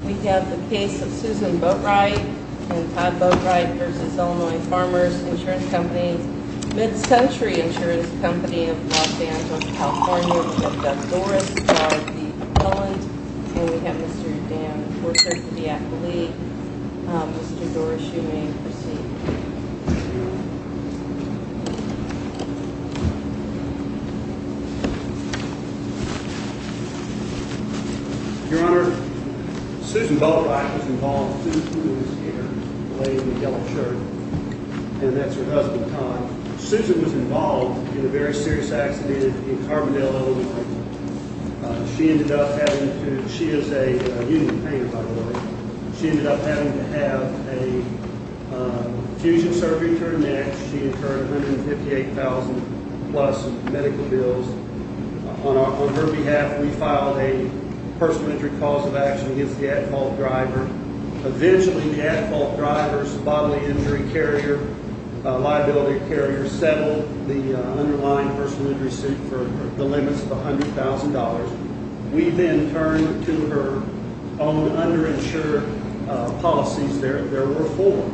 We have the case of Susan Boatright and Todd Boatright v. Illinois Farmers Insurance Company, Mid-Century Insurance Company of Los Angeles, California. We have Doug Doris, who is the appellant. And we have Mr. Dan Forsyth, the appellee. Mr. Doris, you may proceed. Your Honor, Susan Boatright was involved in a very serious accident in Carbondale, Illinois. She ended up having to...she is a union painter, by the way. She ended up having to have a fusion surgery to her neck. She incurred $158,000 plus medical bills. On her behalf, we filed a personal injury cause of action against the at-fault driver. Eventually, the at-fault driver's bodily injury carrier, liability carrier, settled the underlying personal injury suit for the limits of $100,000. We then turned to her own underinsured policies. There were four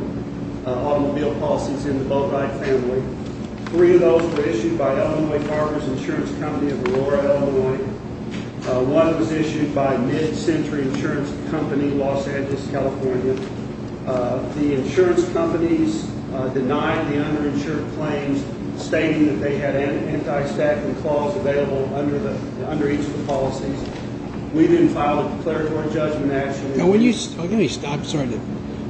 automobile policies in the Boatright family. Three of those were issued by Illinois Farmers Insurance Company of Aurora, Illinois. One was issued by Mid-Century Insurance Company, Los Angeles, California. The insurance companies denied the underinsured claims, stating that they had anti-staffing clause available under each of the policies. We didn't file a declaratory judgment action.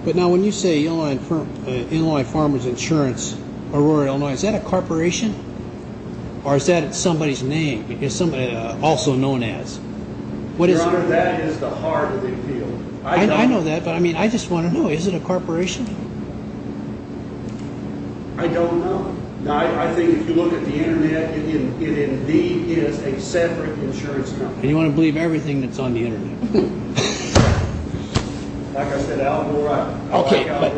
But now when you say Illinois Farmers Insurance, Aurora, Illinois, is that a corporation? Or is that somebody's name? Is somebody also known as? Your Honor, that is the heart of the appeal. I know that, but I just want to know. Is it a corporation? I don't know. I think if you look at the internet, it indeed is a separate insurance company. And you want to believe everything that's on the internet? Like I said, Al, you're right. Okay, but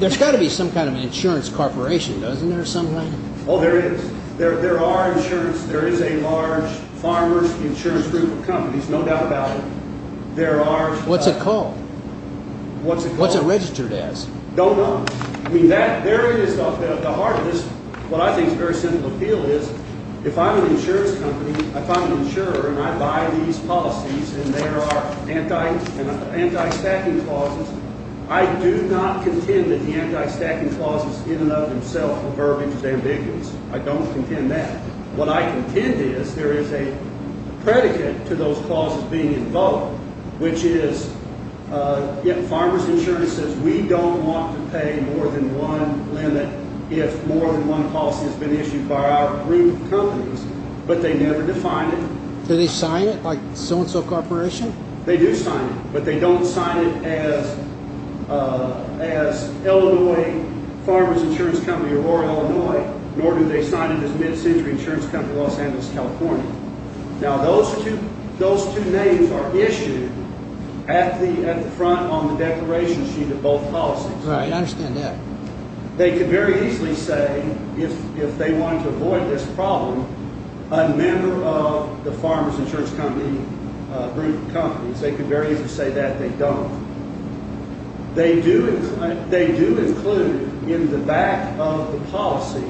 there's got to be some kind of an insurance corporation, doesn't there, somehow? Oh, there is. There are insurance. There is a large farmers insurance group of companies, no doubt about it. There are. What's it called? What's it called? What's it registered as? Don't know. I mean, there is the heart of this. What I think is a very simple appeal is if I'm an insurance company, if I'm an insurer, and I buy these policies, and there are anti-stacking clauses, I do not contend that the anti-stacking clauses in and of themselves are verbiage of ambiguous. I don't contend that. What I contend is there is a predicate to those clauses being invoked, which is farmers insurance says we don't want to pay more than one limit if more than one policy has been issued by our group of companies, but they never define it. Do they sign it like so-and-so corporation? They do sign it, but they don't sign it as Illinois Farmers Insurance Company or Illinois, nor do they sign it as Mid-Century Insurance Company Los Angeles, California. Now, those two names are issued at the front on the declaration sheet of both policies. Right. I understand that. They could very easily say, if they wanted to avoid this problem, a member of the farmers insurance company group of companies. They could very easily say that. They don't. They do include in the back of the policy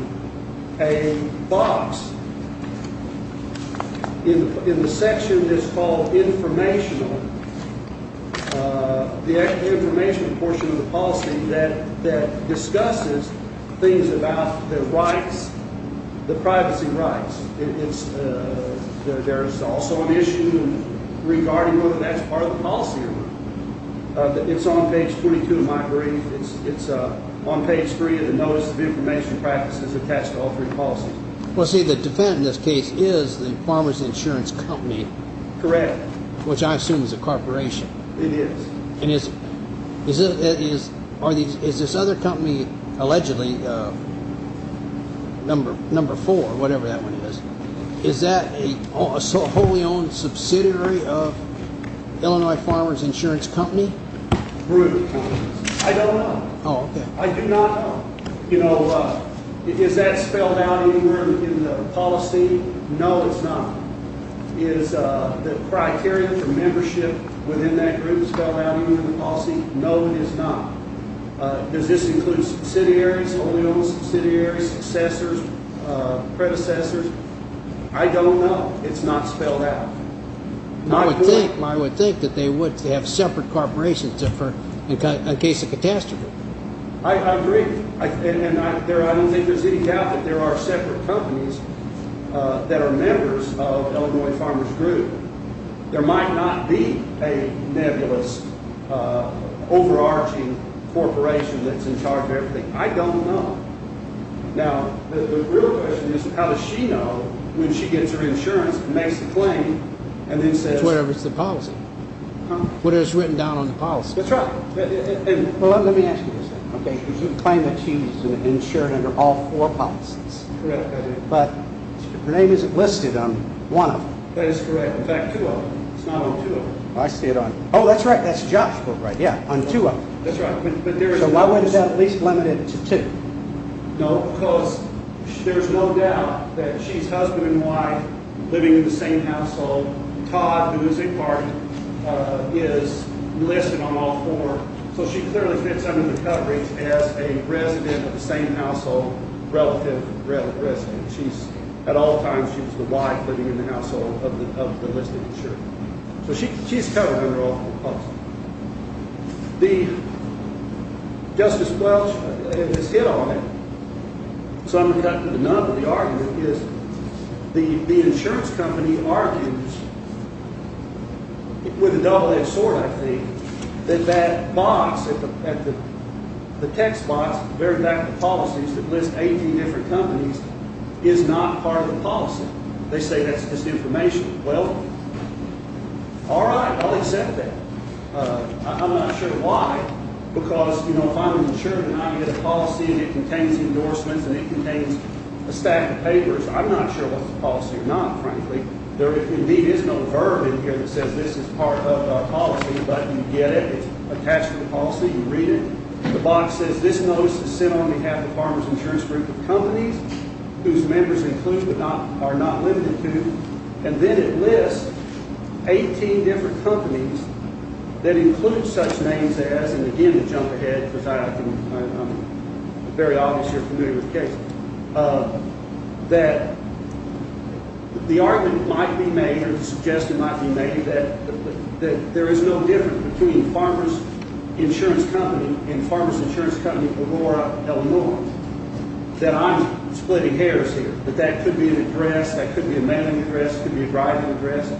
a box in the section that's called informational, the informational portion of the policy that discusses things about the rights, the privacy rights. There's also an issue regarding whether that's part of the policy. It's on page 22, in my brief. It's on page three of the notice of information practices attached to all three policies. Well, see, the defendant in this case is the farmers insurance company. Correct. Which I assume is a corporation. It is. And is this other company, allegedly, number four, whatever that one is, is that a wholly subsidiary of Illinois farmers insurance company? I don't know. Oh, okay. I do not know. You know, is that spelled out anywhere in the policy? No, it's not. Is the criteria for membership within that group spelled out even in the policy? No, it is not. Does this include subsidiaries, wholly owned subsidiaries, successors, predecessors? I don't know. It's not spelled out. I would think that they would have separate corporations in case of catastrophe. I agree. And I don't think there's any doubt that there are separate companies that are members of Illinois farmers group. There might not be a nebulous, overarching corporation that's in charge of everything. I don't know. Now, the real question is, how does she know when she gets her insurance and makes the claim and then says... It's whatever's in the policy. Whatever's written down on the policy. That's right. Well, let me ask you this then. Okay. Because you claim that she's insured under all four policies. Correct. But her name isn't listed on one of them. That is correct. In fact, two of them. It's not on two of them. I see it on... Oh, that's right. That's Josh's book, right? Yeah. On two of them. That's right. So why would it be at least limited to two? No, because there's no doubt that she's husband and wife, living in the same household. Todd, who is a partner, is listed on all four. So she clearly fits under the coverage as a resident of the same household. Relative resident. She's, at all times, she was the wife living in the household of the listed insurer. So she's covered under all four policies. Now, Justice Welch has hit on it, so I'm going to cut to the nut of the argument, is the insurance company argues, with a double-edged sword, I think, that that box, the text box at the very back of the policies that list 18 different companies, is not part of the policy. They say that's misinformation. Well, all right. I'll accept that. I'm not sure why. Because, you know, if I'm an insurer and I get a policy and it contains endorsements and it contains a stack of papers, I'm not sure what's the policy or not, frankly. There indeed is no verb in here that says this is part of our policy, but you get it. It's attached to the policy. You read it. The box says, this notice is sent on behalf of the Farmers Insurance Group of companies, whose members included are not limited to. And then it lists 18 different companies that include such names as, and again, to jump ahead, because I'm very obvious you're familiar with the case, that the argument might be made, or the suggestion might be made, that there is no difference between Farmers Insurance Company and Farmers Insurance Company Aurora, Illinois, that I'm splitting hairs here. That could be an address, that could be a mailing address, could be a driving address.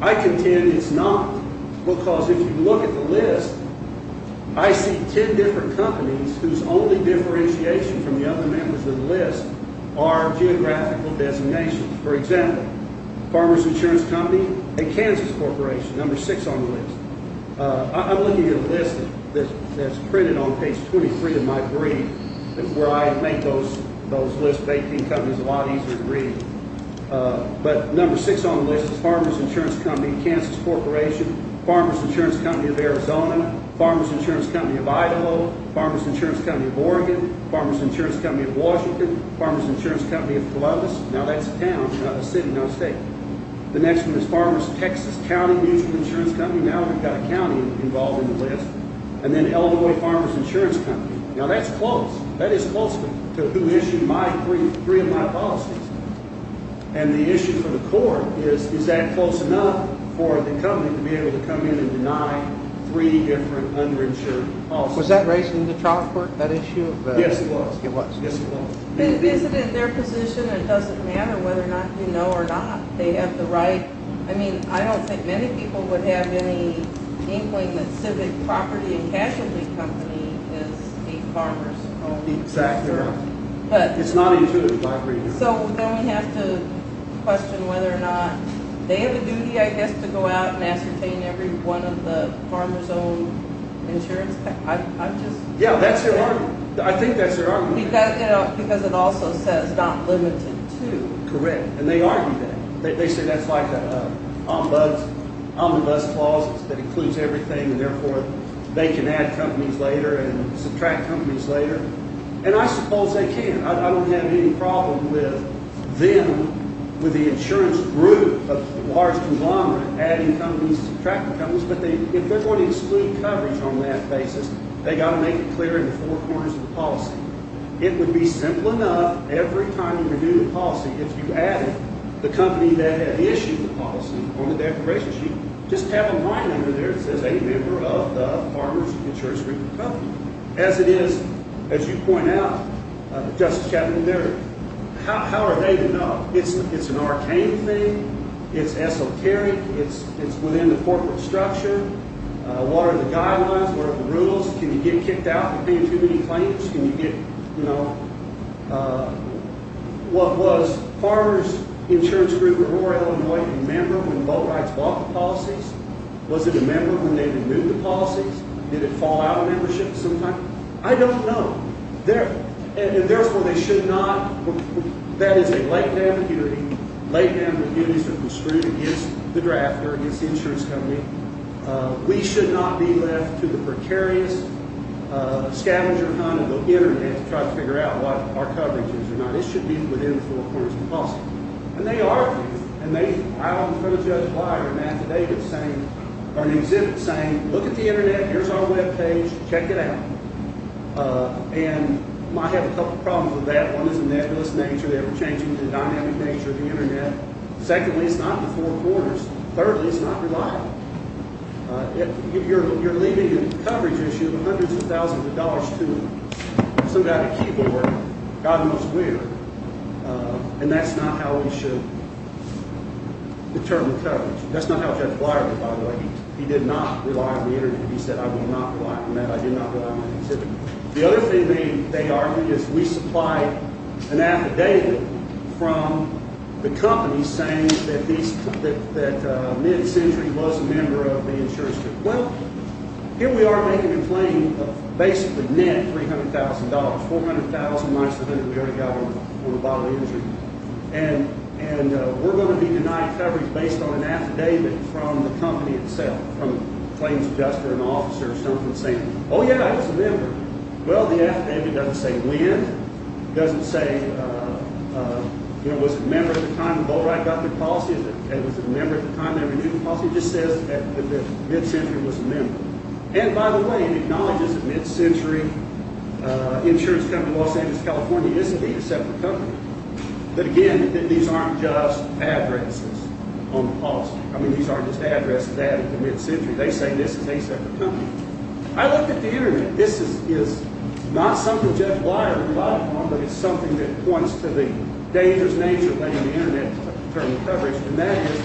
I contend it's not, because if you look at the list, I see 10 different companies whose only differentiation from the other members of the list are geographical designations. For example, Farmers Insurance Company and Kansas Corporation, number six on the list. I'm looking at a list that's printed on page 23 of my brief, where I make those those lists of 18 companies a lot easier to read. But number six on the list is Farmers Insurance Company, Kansas Corporation, Farmers Insurance Company of Arizona, Farmers Insurance Company of Idaho, Farmers Insurance Company of Oregon, Farmers Insurance Company of Washington, Farmers Insurance Company of Columbus. Now that's a town, not a city, no state. The next one is Farmers Texas County Mutual Insurance Company. Now we've got a county involved in the list. And then Illinois Farmers Insurance Company. Now that's close. That is close to who issued my three of my policies. And the issue for the court is, is that close enough for the company to be able to come in and deny three different underinsured policies? Was that raised in the trial court, that issue? Yes, it was. It was? Yes, it was. Is it in their position? It doesn't matter whether or not you know or not they have the right. I mean, I don't think many people would have any civic property and casualty company is a farmer's own. Exactly right. It's not a utility company. So then we have to question whether or not they have a duty, I guess, to go out and ascertain every one of the farmers own insurance. Yeah, that's their argument. I think that's their argument. Because it also says not limited to. Correct. And they argue that. They say that's like an ombuds clause that includes everything, and therefore they can add companies later and subtract companies later. And I suppose they can. I don't have any problem with them with the insurance group of large conglomerate adding companies, subtracting companies. But if they're going to exclude coverage on that basis, they got to make it clear in the four corners of the policy. It would be simple enough. Every time you renew the policy, if you added the company that had issued the policy on the declaration sheet, just have a line under there that says a member of the farmers insurance group company, as it is, as you point out, Justice Captain, how are they to know? It's an arcane thing. It's esoteric. It's within the corporate structure. What are the guidelines? What are the rules? Can you get kicked out for being too many claims? Can you get, you know, uh, what was farmers insurance group of rural Illinois? Remember when boat rides bought the policies? Was it a member when they renewed the policies? Did it fall out of membership sometime? I don't know. They're, and therefore they should not. That is a latent ambiguity. Latent ambiguity is that we're screwed against the drafter, against the insurance company. We should not be left to the precarious, uh, scavenger hunt of the internet to try to figure out what our coverage is or not. It should be within the four corners of the policy. And they are, and they, I'm in front of Judge Blyer and Matthew Davis saying, or an exhibit saying, look at the internet. Here's our webpage. Check it out. And might have a couple problems with that. One is a nebulous nature. They were changing the dynamic nature of the internet. Secondly, it's not the four corners. Thirdly, it's not reliable. If you're, you're leaving a coverage issue of hundreds of thousands of dollars to some kind of keyboard, God knows where. And that's not how we should determine the coverage. That's not how Judge Blyer did, by the way. He did not rely on the internet. He said, I will not rely on that. I did not put out my exhibit. The other thing they, they argued is we supplied an affidavit from the company saying that that mid-century was a member of the insurance company. Well, here we are making a claim of basically net $300,000, $400,000, much of it we already got on a bottle of energy. And, and we're going to be denied coverage based on an affidavit from the company itself, from claims adjuster and officer or something saying, oh yeah, I was a member. Well, the affidavit doesn't say when, doesn't say, you know, was a member at the time the they renewed the policy, it just says that the mid-century was a member. And by the way, it acknowledges that mid-century insurance company, Los Angeles, California, isn't a separate company, but again, these aren't just addresses on the policy. I mean, these aren't just addresses added to mid-century. They say this is a separate company. I looked at the internet. This is not something Judge Blyer relied on, but it's something that points to the dangerous nature of laying the internet to determine coverage. And that is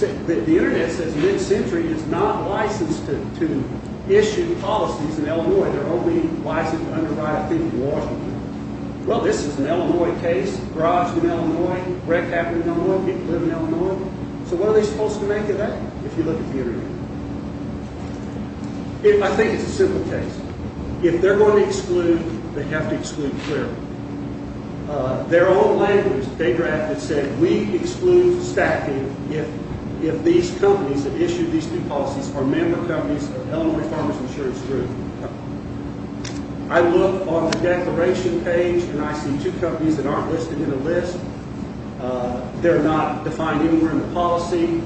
that the internet says mid-century is not licensed to, to issue policies in Illinois. They're only licensed to underwrite a fee for Washington. Well, this is an Illinois case, garage in Illinois, wreck happened in Illinois, people live in Illinois. So what are they supposed to make of that? If you look at the internet, I think it's a simple case. If they're going to exclude, they have to exclude clearly. Uh, their own language, they drafted said, we exclude stacking. If, if these companies that issued these two policies are member companies of Illinois Farmers Insurance Group. I look on the declaration page and I see two companies that aren't listed in a list. Uh, they're not defined anywhere in the policy.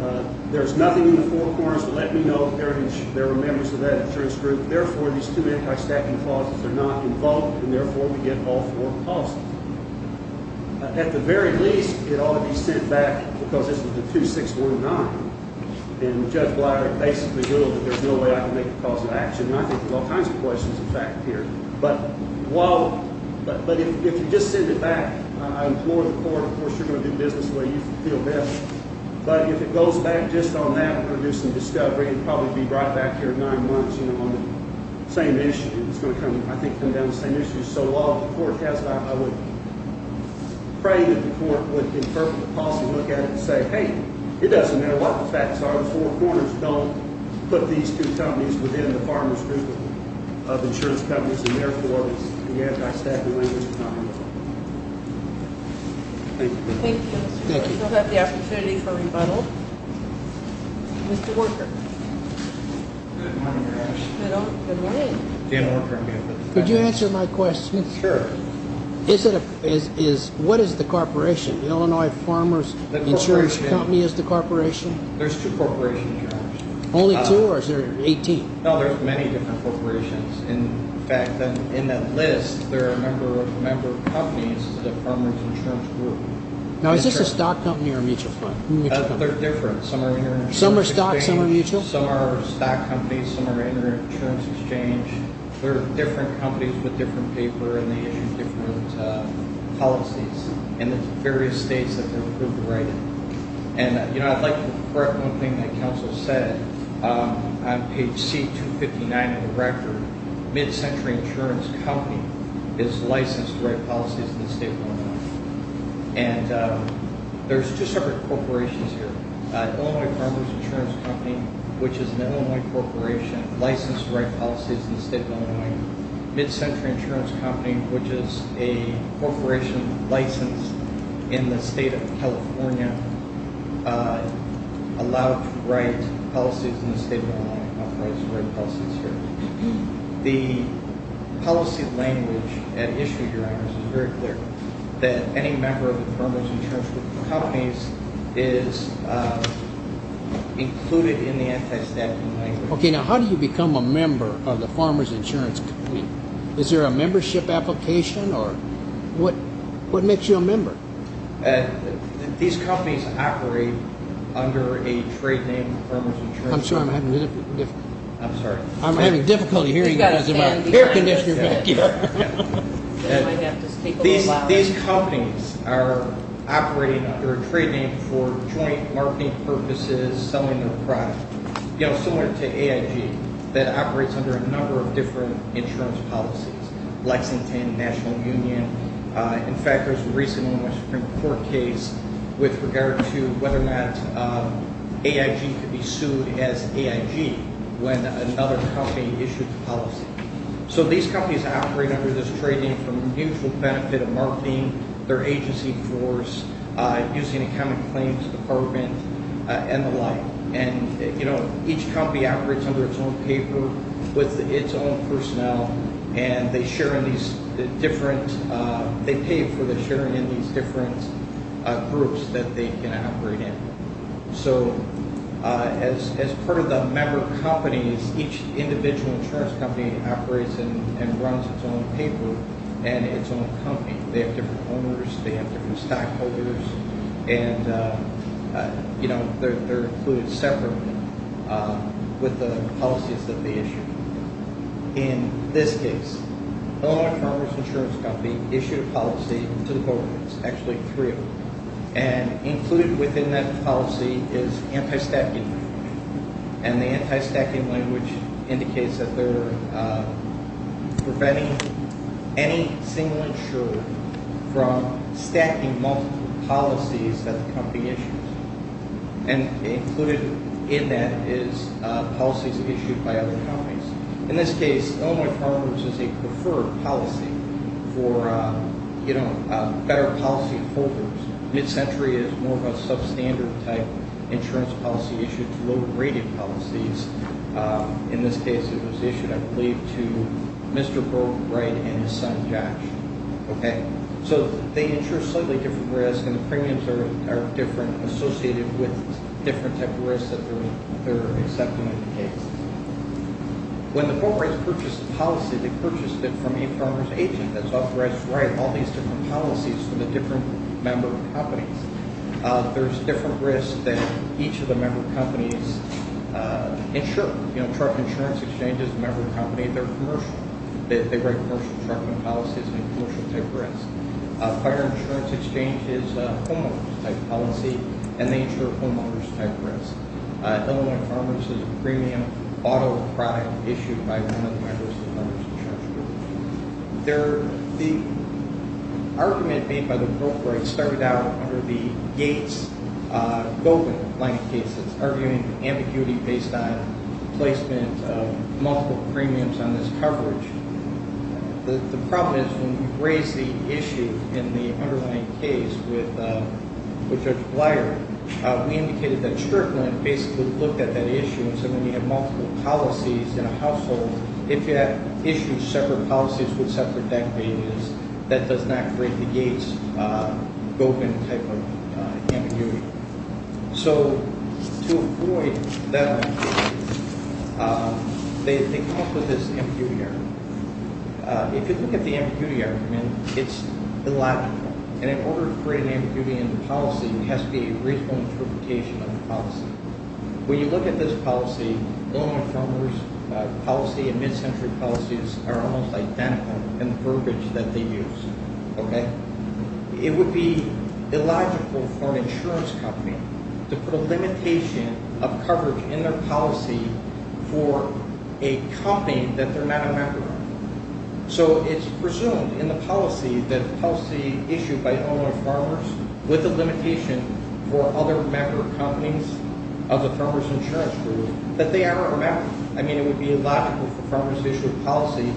Uh, there's nothing in the four corners to let me know if there were members of that insurance group. Therefore, these two anti-stacking clauses are not involved. And therefore we get all four policies. At the very least, it ought to be sent back because this was the two, six, one, nine and judge Blatter basically knew that there's no way I can make a cause of action. And I think there's all kinds of questions in fact here, but while, but, but if, if you just send it back, I implore the court, of course, you're going to do business the way you feel best. But if it goes back just on that, we're going to do some discovery and probably be right back here in nine months, you know, on the same issue. It's going to come, I think, come down to the same issue. So while the court has that, I would pray that the court would interpret the policy, look at it and say, hey, it doesn't matter what the facts are. The four corners don't put these two companies within the farmers group of insurance companies. And therefore, the anti-stacking language is not involved. Thank you. Thank you. Thank you. We'll have the opportunity for rebuttal. Mr. Worker. Good morning, Your Honor. Good morning. Could you answer my question? Sure. Is it, is, is, what is the corporation? Illinois Farmers Insurance Company is the corporation? There's two corporations, Your Honor. Only two or is there 18? No, there's many different corporations. In fact, in that list, there are a number of, a number of companies in the farmers insurance group. Now, is this a stock company or a mutual fund? They're different. Some are international. Some are stock, some are mutual? Some are stock companies. Some are inter-insurance exchange. There are different companies with different paper and they issue different policies. And there's various states that they're approved to write in. And, you know, I'd like to correct one thing that counsel said. On page C-259 of the record, mid-century insurance company is licensed to write policies in the state of Illinois. And there's two separate corporations here. Illinois Farmers Insurance Company, which is an Illinois corporation, licensed to write policies in the state of Illinois. Mid-century insurance company, which is a corporation licensed in the state of California, allowed to write policies in the state of Illinois, authorizes to write policies here. The policy language at issue here, Your Honor, is very clear. That any member of the farmers insurance companies is included in the anti-staffing language. Okay. Now, how do you become a member of the Farmers Insurance Company? Is there a membership application? Or what makes you a member? These companies operate under a trade name, Farmers Insurance Company. I'm sorry, I'm having difficulty hearing you because of my hair conditioner back here. I might have to speak a little louder. These companies are operating under a trade name for joint marketing purposes, selling their product. You know, similar to AIG, that operates under a number of different insurance policies. Lexington, National Union. In fact, there was a recent Illinois Supreme Court case with regard to whether or not AIG could be sued as AIG when another company issued the policy. So these companies operate under this trade name for mutual benefit of marketing, their agency floors, using accounting claims department, and the like. And, you know, each company operates under its own paper, with its own personnel, and they share in these different, they pay for the sharing in these different groups that they can operate in. So, as part of the member companies, each individual insurance company operates and runs its own paper and its own company. They have different owners, they have different stockholders, and, you know, they're included separately with the policies that they issue. In this case, Illinois Farmers Insurance Company issued a policy to the board, actually three years ago, and included within that policy is anti-stacking. And the anti-stacking language indicates that they're preventing any single insurer from stacking multiple policies that the company issues. And included in that is policies issued by other companies. In this case, Illinois Farmers is a preferred policy for, you know, better policy holders. Mid-century is more of a substandard type insurance policy issued to low-graded policies. In this case, it was issued, I believe, to Mr. Brogan Wright and his son, Josh. Okay, so they insure slightly different risks, and the premiums are different, associated with different type of risks that they're accepting in the case. When the corporates purchase the policy, they purchase it from a farmer's agent that's authorized to write all these different policies for the different member companies. There's different risks that each of the member companies insure. You know, truck insurance exchange is a member company, they're commercial. They write commercial trucking policies and commercial type risks. Fire insurance exchange is a homeowners type policy, and they insure homeowners type risks. Illinois Farmers is a premium auto product issued by one of the members of the homeowners insurance group. The argument made by the corporates started out under the Gates-Gobin line of cases, arguing ambiguity based on placement of multiple premiums on this coverage. The problem is, when we raised the issue in the underlying case with Judge Blair, we indicated that Strickland basically looked at that issue and said, when you have multiple policies in a household, if you issue separate policies with separate deck payments, that does not create the Gates-Gobin type of ambiguity. So, to avoid that ambiguity, they come up with this ambiguity argument. If you look at the ambiguity argument, it's illogical. In order to create an ambiguity in the policy, it has to be a reasonable interpretation of the policy. When you look at this policy, Illinois Farmers policy and mid-century policies are almost identical in the verbiage that they use. It would be illogical for an insurance company to put a limitation of coverage in their policy for a company that they're not a member of. So, it's presumed in the policy that policy issued by Illinois Farmers, with the limitation for other member companies of the Farmers Insurance Group, that they are a member. I mean, it would be illogical for Farmers to issue a policy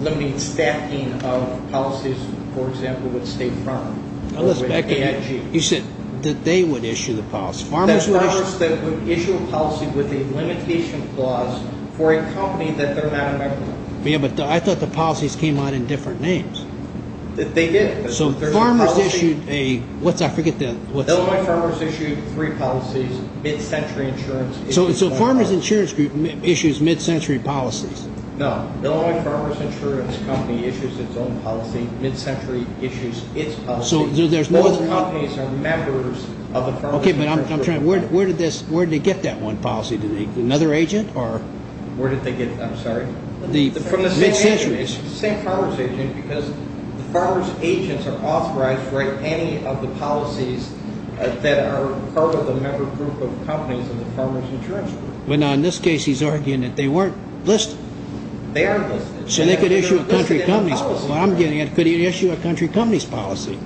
limiting staffing of policies, for example, with a state farmer, or with AIG. You said that they would issue the policy. Farmers would issue a policy with a limitation clause for a company that they're not a member of. Yeah, but I thought the policies came out in different names. They did. So, Farmers issued a... What's that? I forget the... Illinois Farmers issued three policies, mid-century insurance... So, Farmers Insurance Group issues mid-century policies. No, Illinois Farmers Insurance Company issues its own policy, mid-century issues its policy. So, there's no... Both companies are members of the Farmers Insurance Group. Okay, but I'm trying... Where did they get that one policy? Another agent, or... Where did they get it? I'm sorry? From the same farmer's agent, because the farmer's agents are authorized to write any of the policies that are part of the member group of companies in the Farmers Insurance Group. Well, now, in this case, he's arguing that they weren't listed. They aren't listed. So, they could issue a country company's policy. What I'm getting at, could he issue a country company's policy?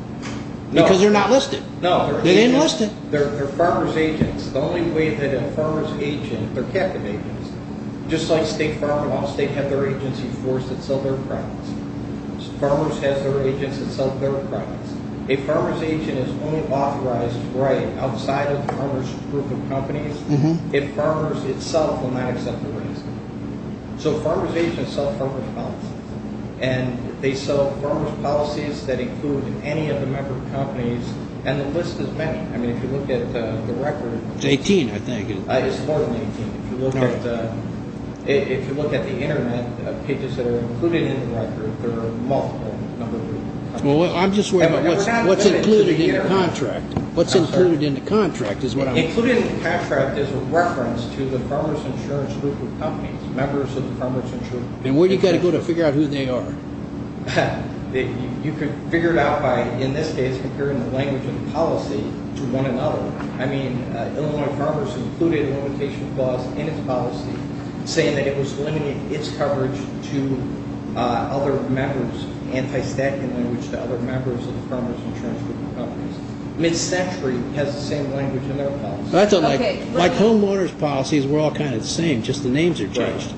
No. Because they're not listed. No. They're not listed. They're farmer's agents. The only way that a farmer's agent... They're captive agents. Just like state farm laws, they have their agency forced to sell their products. Farmers have their agents that sell their products. A farmer's agent is only authorized to write outside of the farmer's group of companies if farmers itself will not accept the rights. So, farmer's agents sell farmer's policies. And they sell farmer's policies that include any of the member companies. And the list is many. I mean, if you look at the record... It's 18, I think. It's more than 18. If you look at the internet, pages that are included in the record, there are multiple number of... Well, I'm just worried about what's included in the contract. What's included in the contract is what I'm... Included in the contract is a reference to the farmer's insurance group of companies, members of the farmer's insurance... And where do you got to go to figure out who they are? You could figure it out by, in this case, comparing the language of the policy to one another. I mean, Illinois farmers included a limitation clause in its policy saying that it was limiting its coverage to other members, anti-statutory language to other members of the farmer's insurance group of companies. Mid-century has the same language in their policy. That's okay. Like homeowner's policies, we're all kind of the same. Just the names are changed.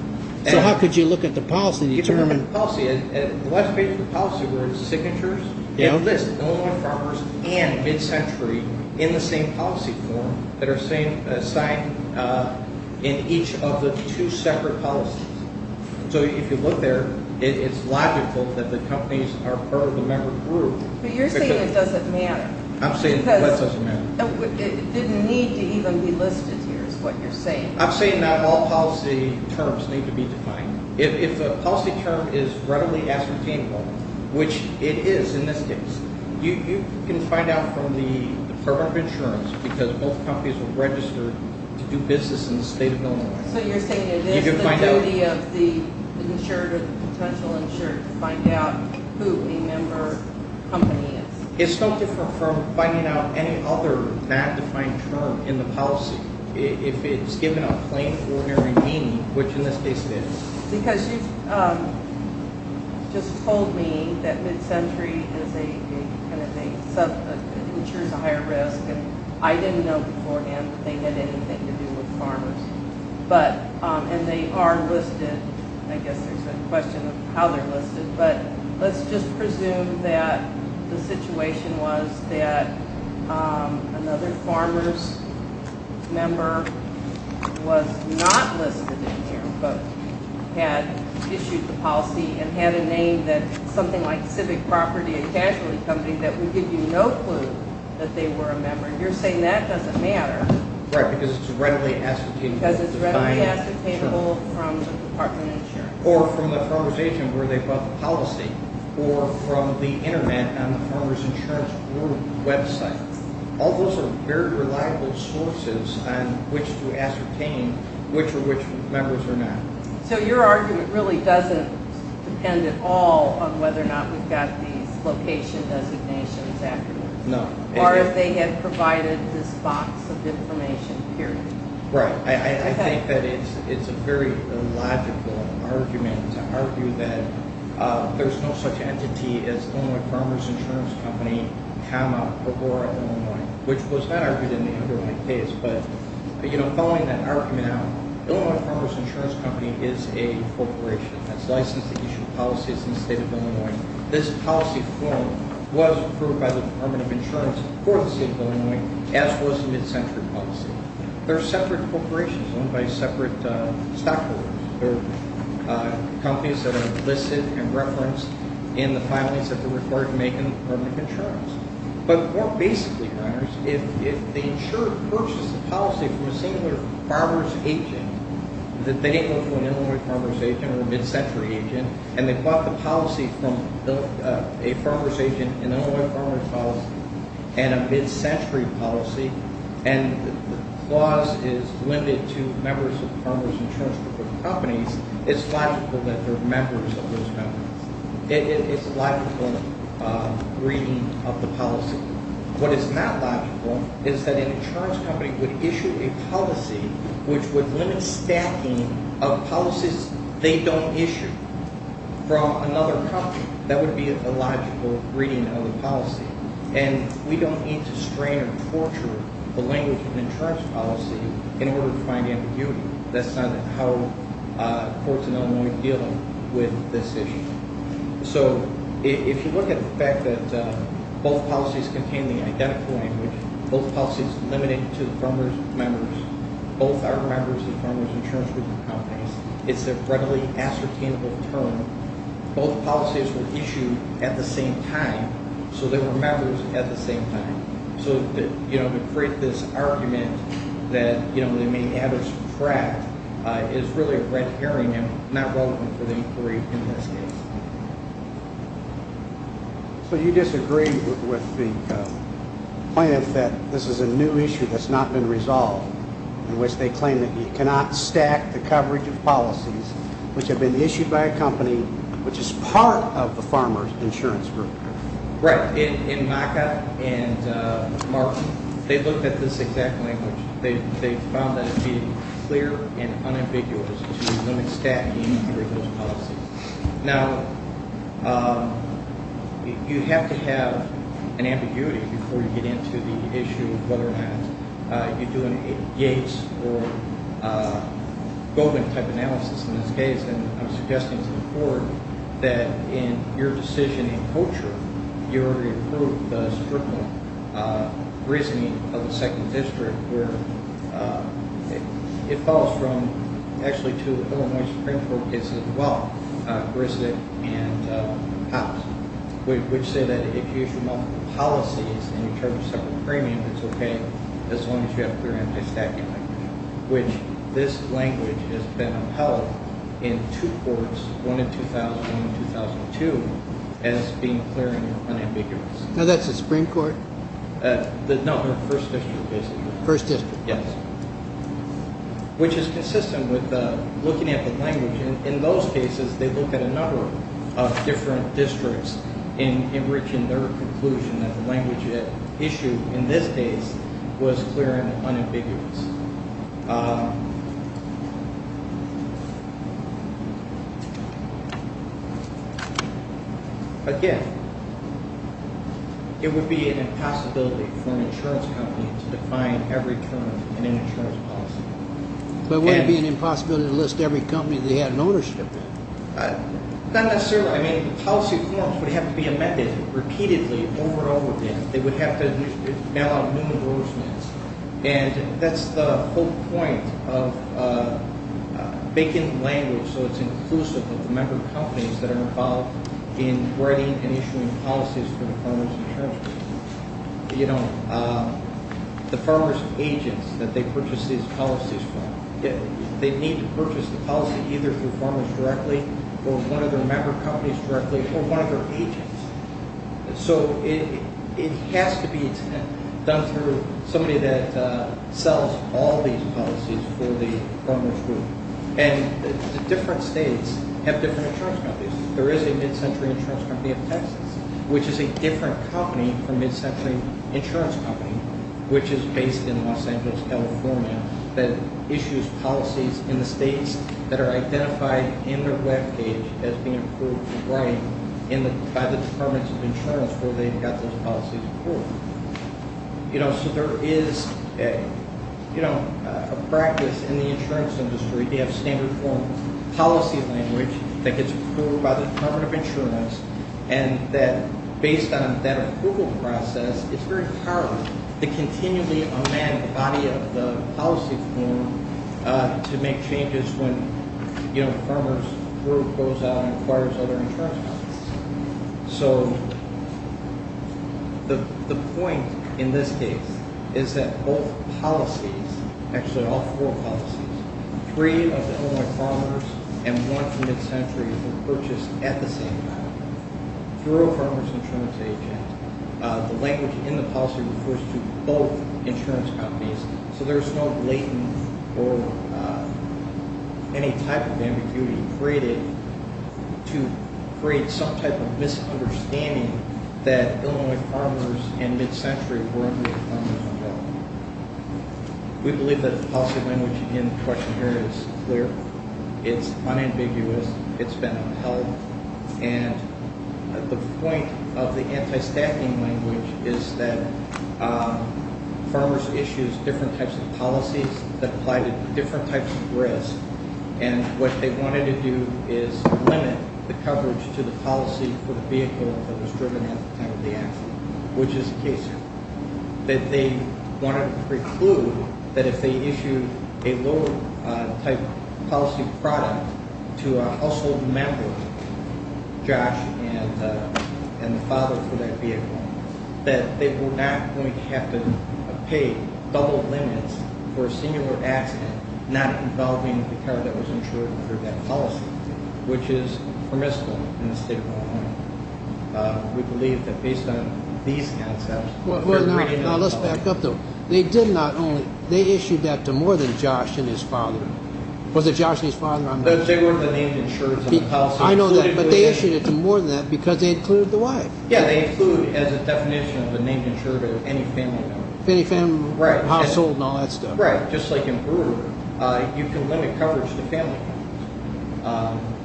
So how could you look at the policy and determine... Policy, the last page of the policy where it's signatures, it lists Illinois farmers and mid-century in the same policy form that are signed in each of the two separate policies. So if you look there, it's logical that the companies are part of the member group. But you're saying it doesn't matter. I'm saying that doesn't matter. Because it didn't need to even be listed here is what you're saying. I'm saying that all policy terms need to be defined. If a policy term is readily ascertainable, which it is in this case, you can find out from the Department of Insurance because both companies are registered to do business in the state of Illinois. So you're saying it is the duty of the insured or the potential insured to find out who a member company is. It's no different from finding out any other bad defined term in the policy if it's given a plain ordinary meaning, which in this case it is. Because you've just told me that mid-century insures a higher risk. And I didn't know beforehand that they had anything to do with farmers. But and they are listed. I guess there's a question of how they're listed. But let's just presume that the situation was that another farmers member was not listed in here, but had issued the policy and had a name that something like Civic Property and Casualty Company that would give you no clue that they were a member. You're saying that doesn't matter. Right, because it's readily ascertainable. Because it's readily ascertainable from the Department of Insurance. Or from the farmer's agent where they bought the policy. Or from the internet on the farmer's insurance website. All those are very reliable sources on which to ascertain which or which members are not. So your argument really doesn't depend at all on whether or not we've got these location designations afterwards. No. Or if they had provided this box of information, period. Right, I think that it's a very illogical argument to argue that there's no such entity as Illinois Farmers Insurance Company, comma, or or Illinois. Which was not argued in the underlying case. But following that argument out, Illinois Farmers Insurance Company is a corporation that's licensed to issue policies in the state of Illinois. This policy form was approved by the Department of Insurance for the state of Illinois, as was the mid-century policy. They're separate corporations owned by separate stockholders. They're companies that are listed and referenced in the filings that they're required to make in the Department of Insurance. But more basically, runners, if the insurer purchases a policy from a singular farmer's agent, that they go to an Illinois farmer's agent or a mid-century agent, and they bought the policy from a farmer's agent in an Illinois farmer's policy, and a mid-century policy, and the clause is limited to members of farmers insurance companies, it's logical that they're members of those companies. It's a logical reading of the policy. What is not logical is that an insurance company would issue a policy which would limit stacking of policies they don't issue from another company. That would be a logical reading of the policy. And we don't need to strain and torture the language of an insurance policy in order to find ambiguity. That's not how courts in Illinois deal with this issue. So if you look at the fact that both policies contain the identical language, both policies limited to the farmer's members, both are members of the farmer's insurance companies, it's a readily ascertainable term, both policies were issued at the same time, so they were members at the same time. So to create this argument that the main adders are trapped is really a red herring and not relevant for the inquiry in this case. So you disagree with the plaintiff that this is a new issue that's not been resolved, in which they claim that you cannot stack the coverage of policies which have been issued by a company which is part of the farmer's insurance group? Right, in Maka and Mark, they looked at this exact language. They found that it would be clear and unambiguous to limit stacking for those policies. Now, you have to have an ambiguity before you get into the issue of whether or not you do a Yates or Goldman type analysis in this case. I'm suggesting to the court that in your decision in Kocher, you already approved the strictly grizzly of the second district where it falls from actually to the Illinois Supreme Court cases as well, Grissick and Pops, which say that if you issue multiple policies and you charge a separate premium, it's okay as long as you have clear anti-stacking language, which this language has been upheld in two courts, one in 2000 and one in 2002, as being clear and unambiguous. Now, that's the Supreme Court? No, the first district, basically. First district. Yes, which is consistent with looking at the language. In those cases, they look at a number of different districts in reaching their conclusion that the language at issue in this case was clear and unambiguous. Again, it would be an impossibility for an insurance company to define every term in an insurance policy. But it wouldn't be an impossibility to list every company that they had an ownership in? Not necessarily. I mean, policy forms would have to be amended repeatedly over and over again. They would have to mail out numerous notes. That's the whole point of making language so it's inclusive of the member companies that are involved in writing and issuing policies for the farmers insurance company. The farmers agents that they purchase these policies from, they need to purchase the policy either through farmers directly or one of their member companies directly or one of their agents. So it has to be done through somebody that sells all these policies for the farmers group. And the different states have different insurance companies. There is a mid-century insurance company in Texas, which is a different company from mid-century insurance company, which is based in Los Angeles, California, that issues policies in the states that are identified in their web page as being approved by the Departments of Insurance where they've got those policies approved. So there is a practice in the insurance industry. They have standard form policy language that gets approved by the Department of Insurance. And that based on that approval process, it's very hard to continually amend the body of policy form to make changes when the farmers group goes out and acquires other insurance companies. So the point in this case is that both policies, actually all four policies, three of the Illinois farmers and one from mid-century were purchased at the same time through a farmers insurance agent. The language in the policy refers to both insurance companies. So there's no blatant or any type of ambiguity created to create some type of misunderstanding that Illinois farmers and mid-century were under the farmers' control. We believe that the policy language in question here is clear. It's unambiguous. It's been upheld. And the point of the anti-staffing language is that farmers issues different types of policies that apply to different types of risk. And what they wanted to do is limit the coverage to the policy for the vehicle that was driven at the time of the accident, which is the case here. That they want to preclude that if they issue a lower type policy product to a household member, Josh and the father for that vehicle, that they were not going to have to pay double limits for a singular accident not involving the car that was insured under that policy, which is permissible in the state of Oklahoma. We believe that based on these concepts. Now let's back up though. They did not only, they issued that to more than Josh and his father. Was it Josh and his father? They were the named insureds. But they issued it to more than that because they included the wife. Yeah, they include as a definition of a named insured of any family member. Any family household and all that stuff. Right. Just like in Peru, you can limit coverage to family.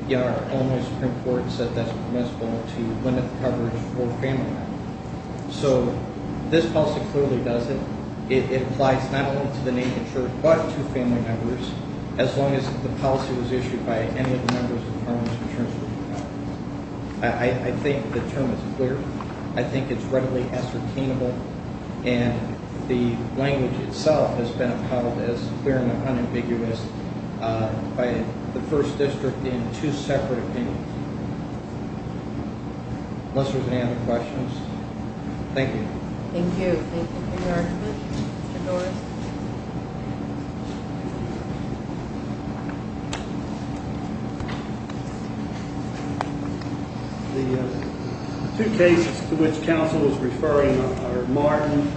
You know, our own Supreme Court said that's permissible to limit the coverage for family members. So this policy clearly does it. It applies not only to the named insured, but to family members as long as the policy was issued by any of the members of the Parliament's insurance group. I think the term is clear. I think it's readily ascertainable. And the language itself has been upheld as clear and unambiguous by the first district in two separate opinions. Unless there's any other questions. Thank you. Thank you. Thank you for your argument, Mr. Doris. The two cases to which counsel is referring are Martin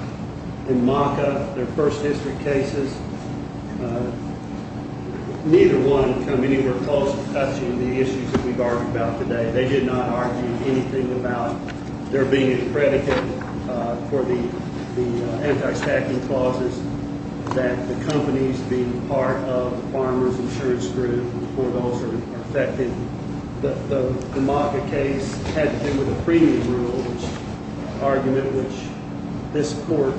and Maka, their first district cases. Neither one come anywhere close to touching the issues that we've argued about today. They did not argue anything about there being a predicate for the anti-stacking clauses that the companies being part of the farmer's insurance group or those are affected. The Maka case had to do with the premium rule argument, which this court,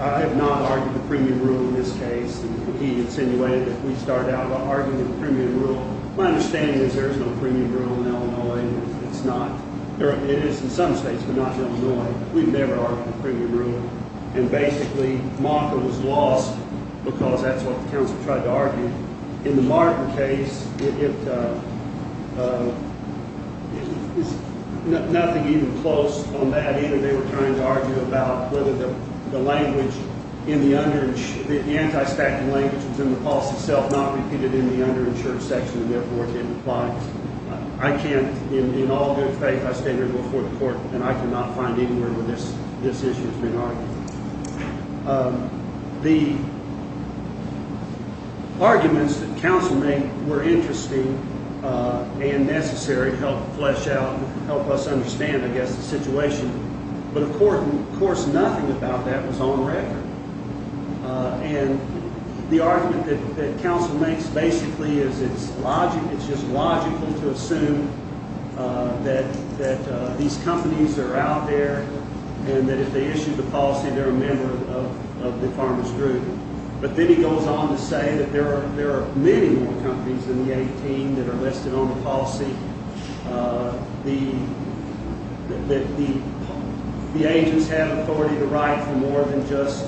I have not argued the premium rule in this case. And he insinuated that we start out by arguing the premium rule. My understanding is there is no premium rule in Illinois. It's not. It is in some states, but not Illinois. We've never argued the premium rule. And basically, Maka was lost because that's what the counsel tried to argue. In the Martin case, it is nothing even close on that either. They were trying to argue about whether the language in the underage, the anti-stacking language was in the policy itself, not repeated in the underinsured section. And therefore, it didn't apply. I can't, in all good faith, I stand here before the court and I cannot find anywhere this issue has been argued. The arguments that counsel made were interesting and necessary to help flesh out and help us understand, I guess, the situation. But of course, nothing about that was on record. And the argument that counsel makes basically is it's just logical to assume that these companies are out there and that if they issue the policy, they're a member of the farmers group. But then he goes on to say that there are many more companies than the 18 that are listed on the policy, that the agents have authority, the right for more than just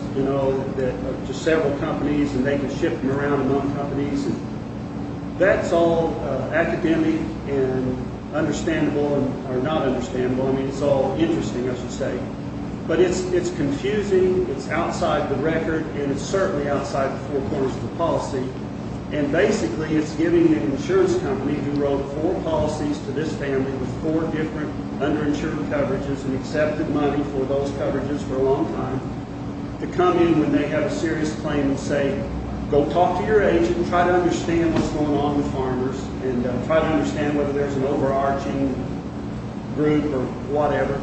several companies and they can ship them around among companies. That's all academic and understandable or not understandable. I mean, it's all interesting, I should say. But it's confusing. It's outside the record and it's certainly outside the four corners of the policy. And basically, it's giving the insurance company who wrote four policies to this family with four different underinsured coverages and accepted money for those coverages for a long time to come in when they have a serious claim and say, go talk to your agent and try to understand what's going on with farmers and try to understand whether there's an overarching group or whatever.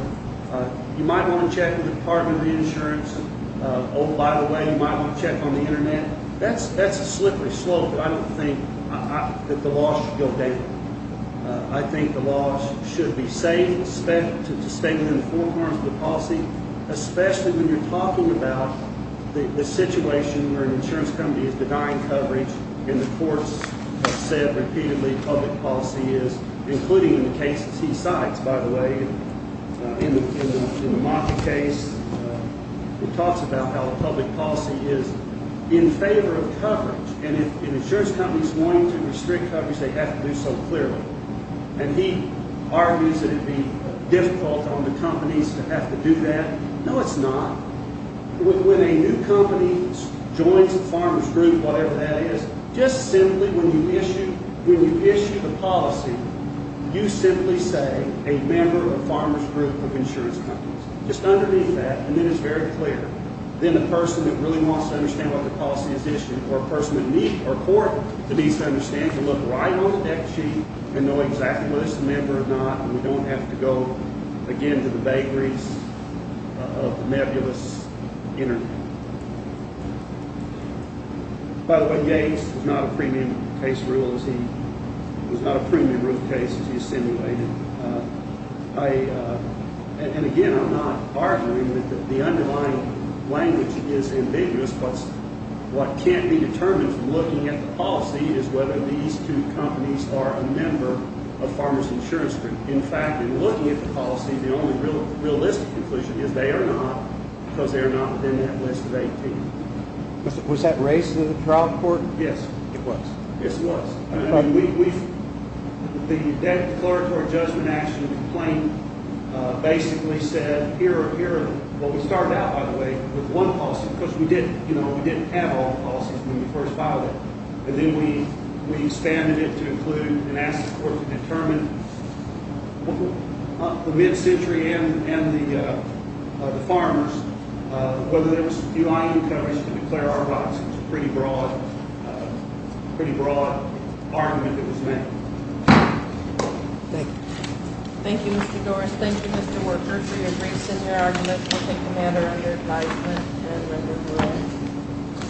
You might want to check with the Department of Reinsurance. Oh, by the way, you might want to check on the internet. That's a slippery slope, but I don't think that the law should go down. I think the law should be safe to stay within the four corners of the policy, especially when you're talking about the situation where an insurance company is denying coverage and the courts have said repeatedly public policy is, including in the cases he cites, by the way, in the mock case, it talks about how public policy is in favor of coverage. And if an insurance company is going to restrict coverage, they have to do so clearly. And he argues that it'd be difficult on the companies to have to do that. No, it's not. When a new company joins a farmer's group, whatever that is, just simply when you issue the policy, you simply say a member of a farmer's group of insurance companies, just underneath that, and it is very clear. Then the person that really wants to understand what the policy is issued or a person in need or court to need to understand, to look right on the deck sheet and know exactly what is the member or not. We don't have to go again to the vagaries of nebulous internet. By the way, Yates is not a premium case rule as he was not a premium root case as he assimilated. And again, I'm not arguing that the underlying language is ambiguous, but what can't be determined from looking at the policy is whether these two companies are a member of farmer's group or an insurance group. In fact, in looking at the policy, the only realistic conclusion is they are not, because they are not within that list of 18. Was that raised in the trial court? Yes, it was. Yes, it was. The declaratory judgment action complaint basically said, here are what we started out, by the way, with one policy, because we didn't have all the policies when we first filed it, and then we expanded it to include and ask the court to determine the mid-century and the farmers, whether there was a few I.E. companies to declare our rights. It was a pretty broad argument that was made. Thank you. Thank you, Mr. Doris. Thank you, Mr. Worker, for your brief sitting argument. We'll take a matter under advisement and record rule.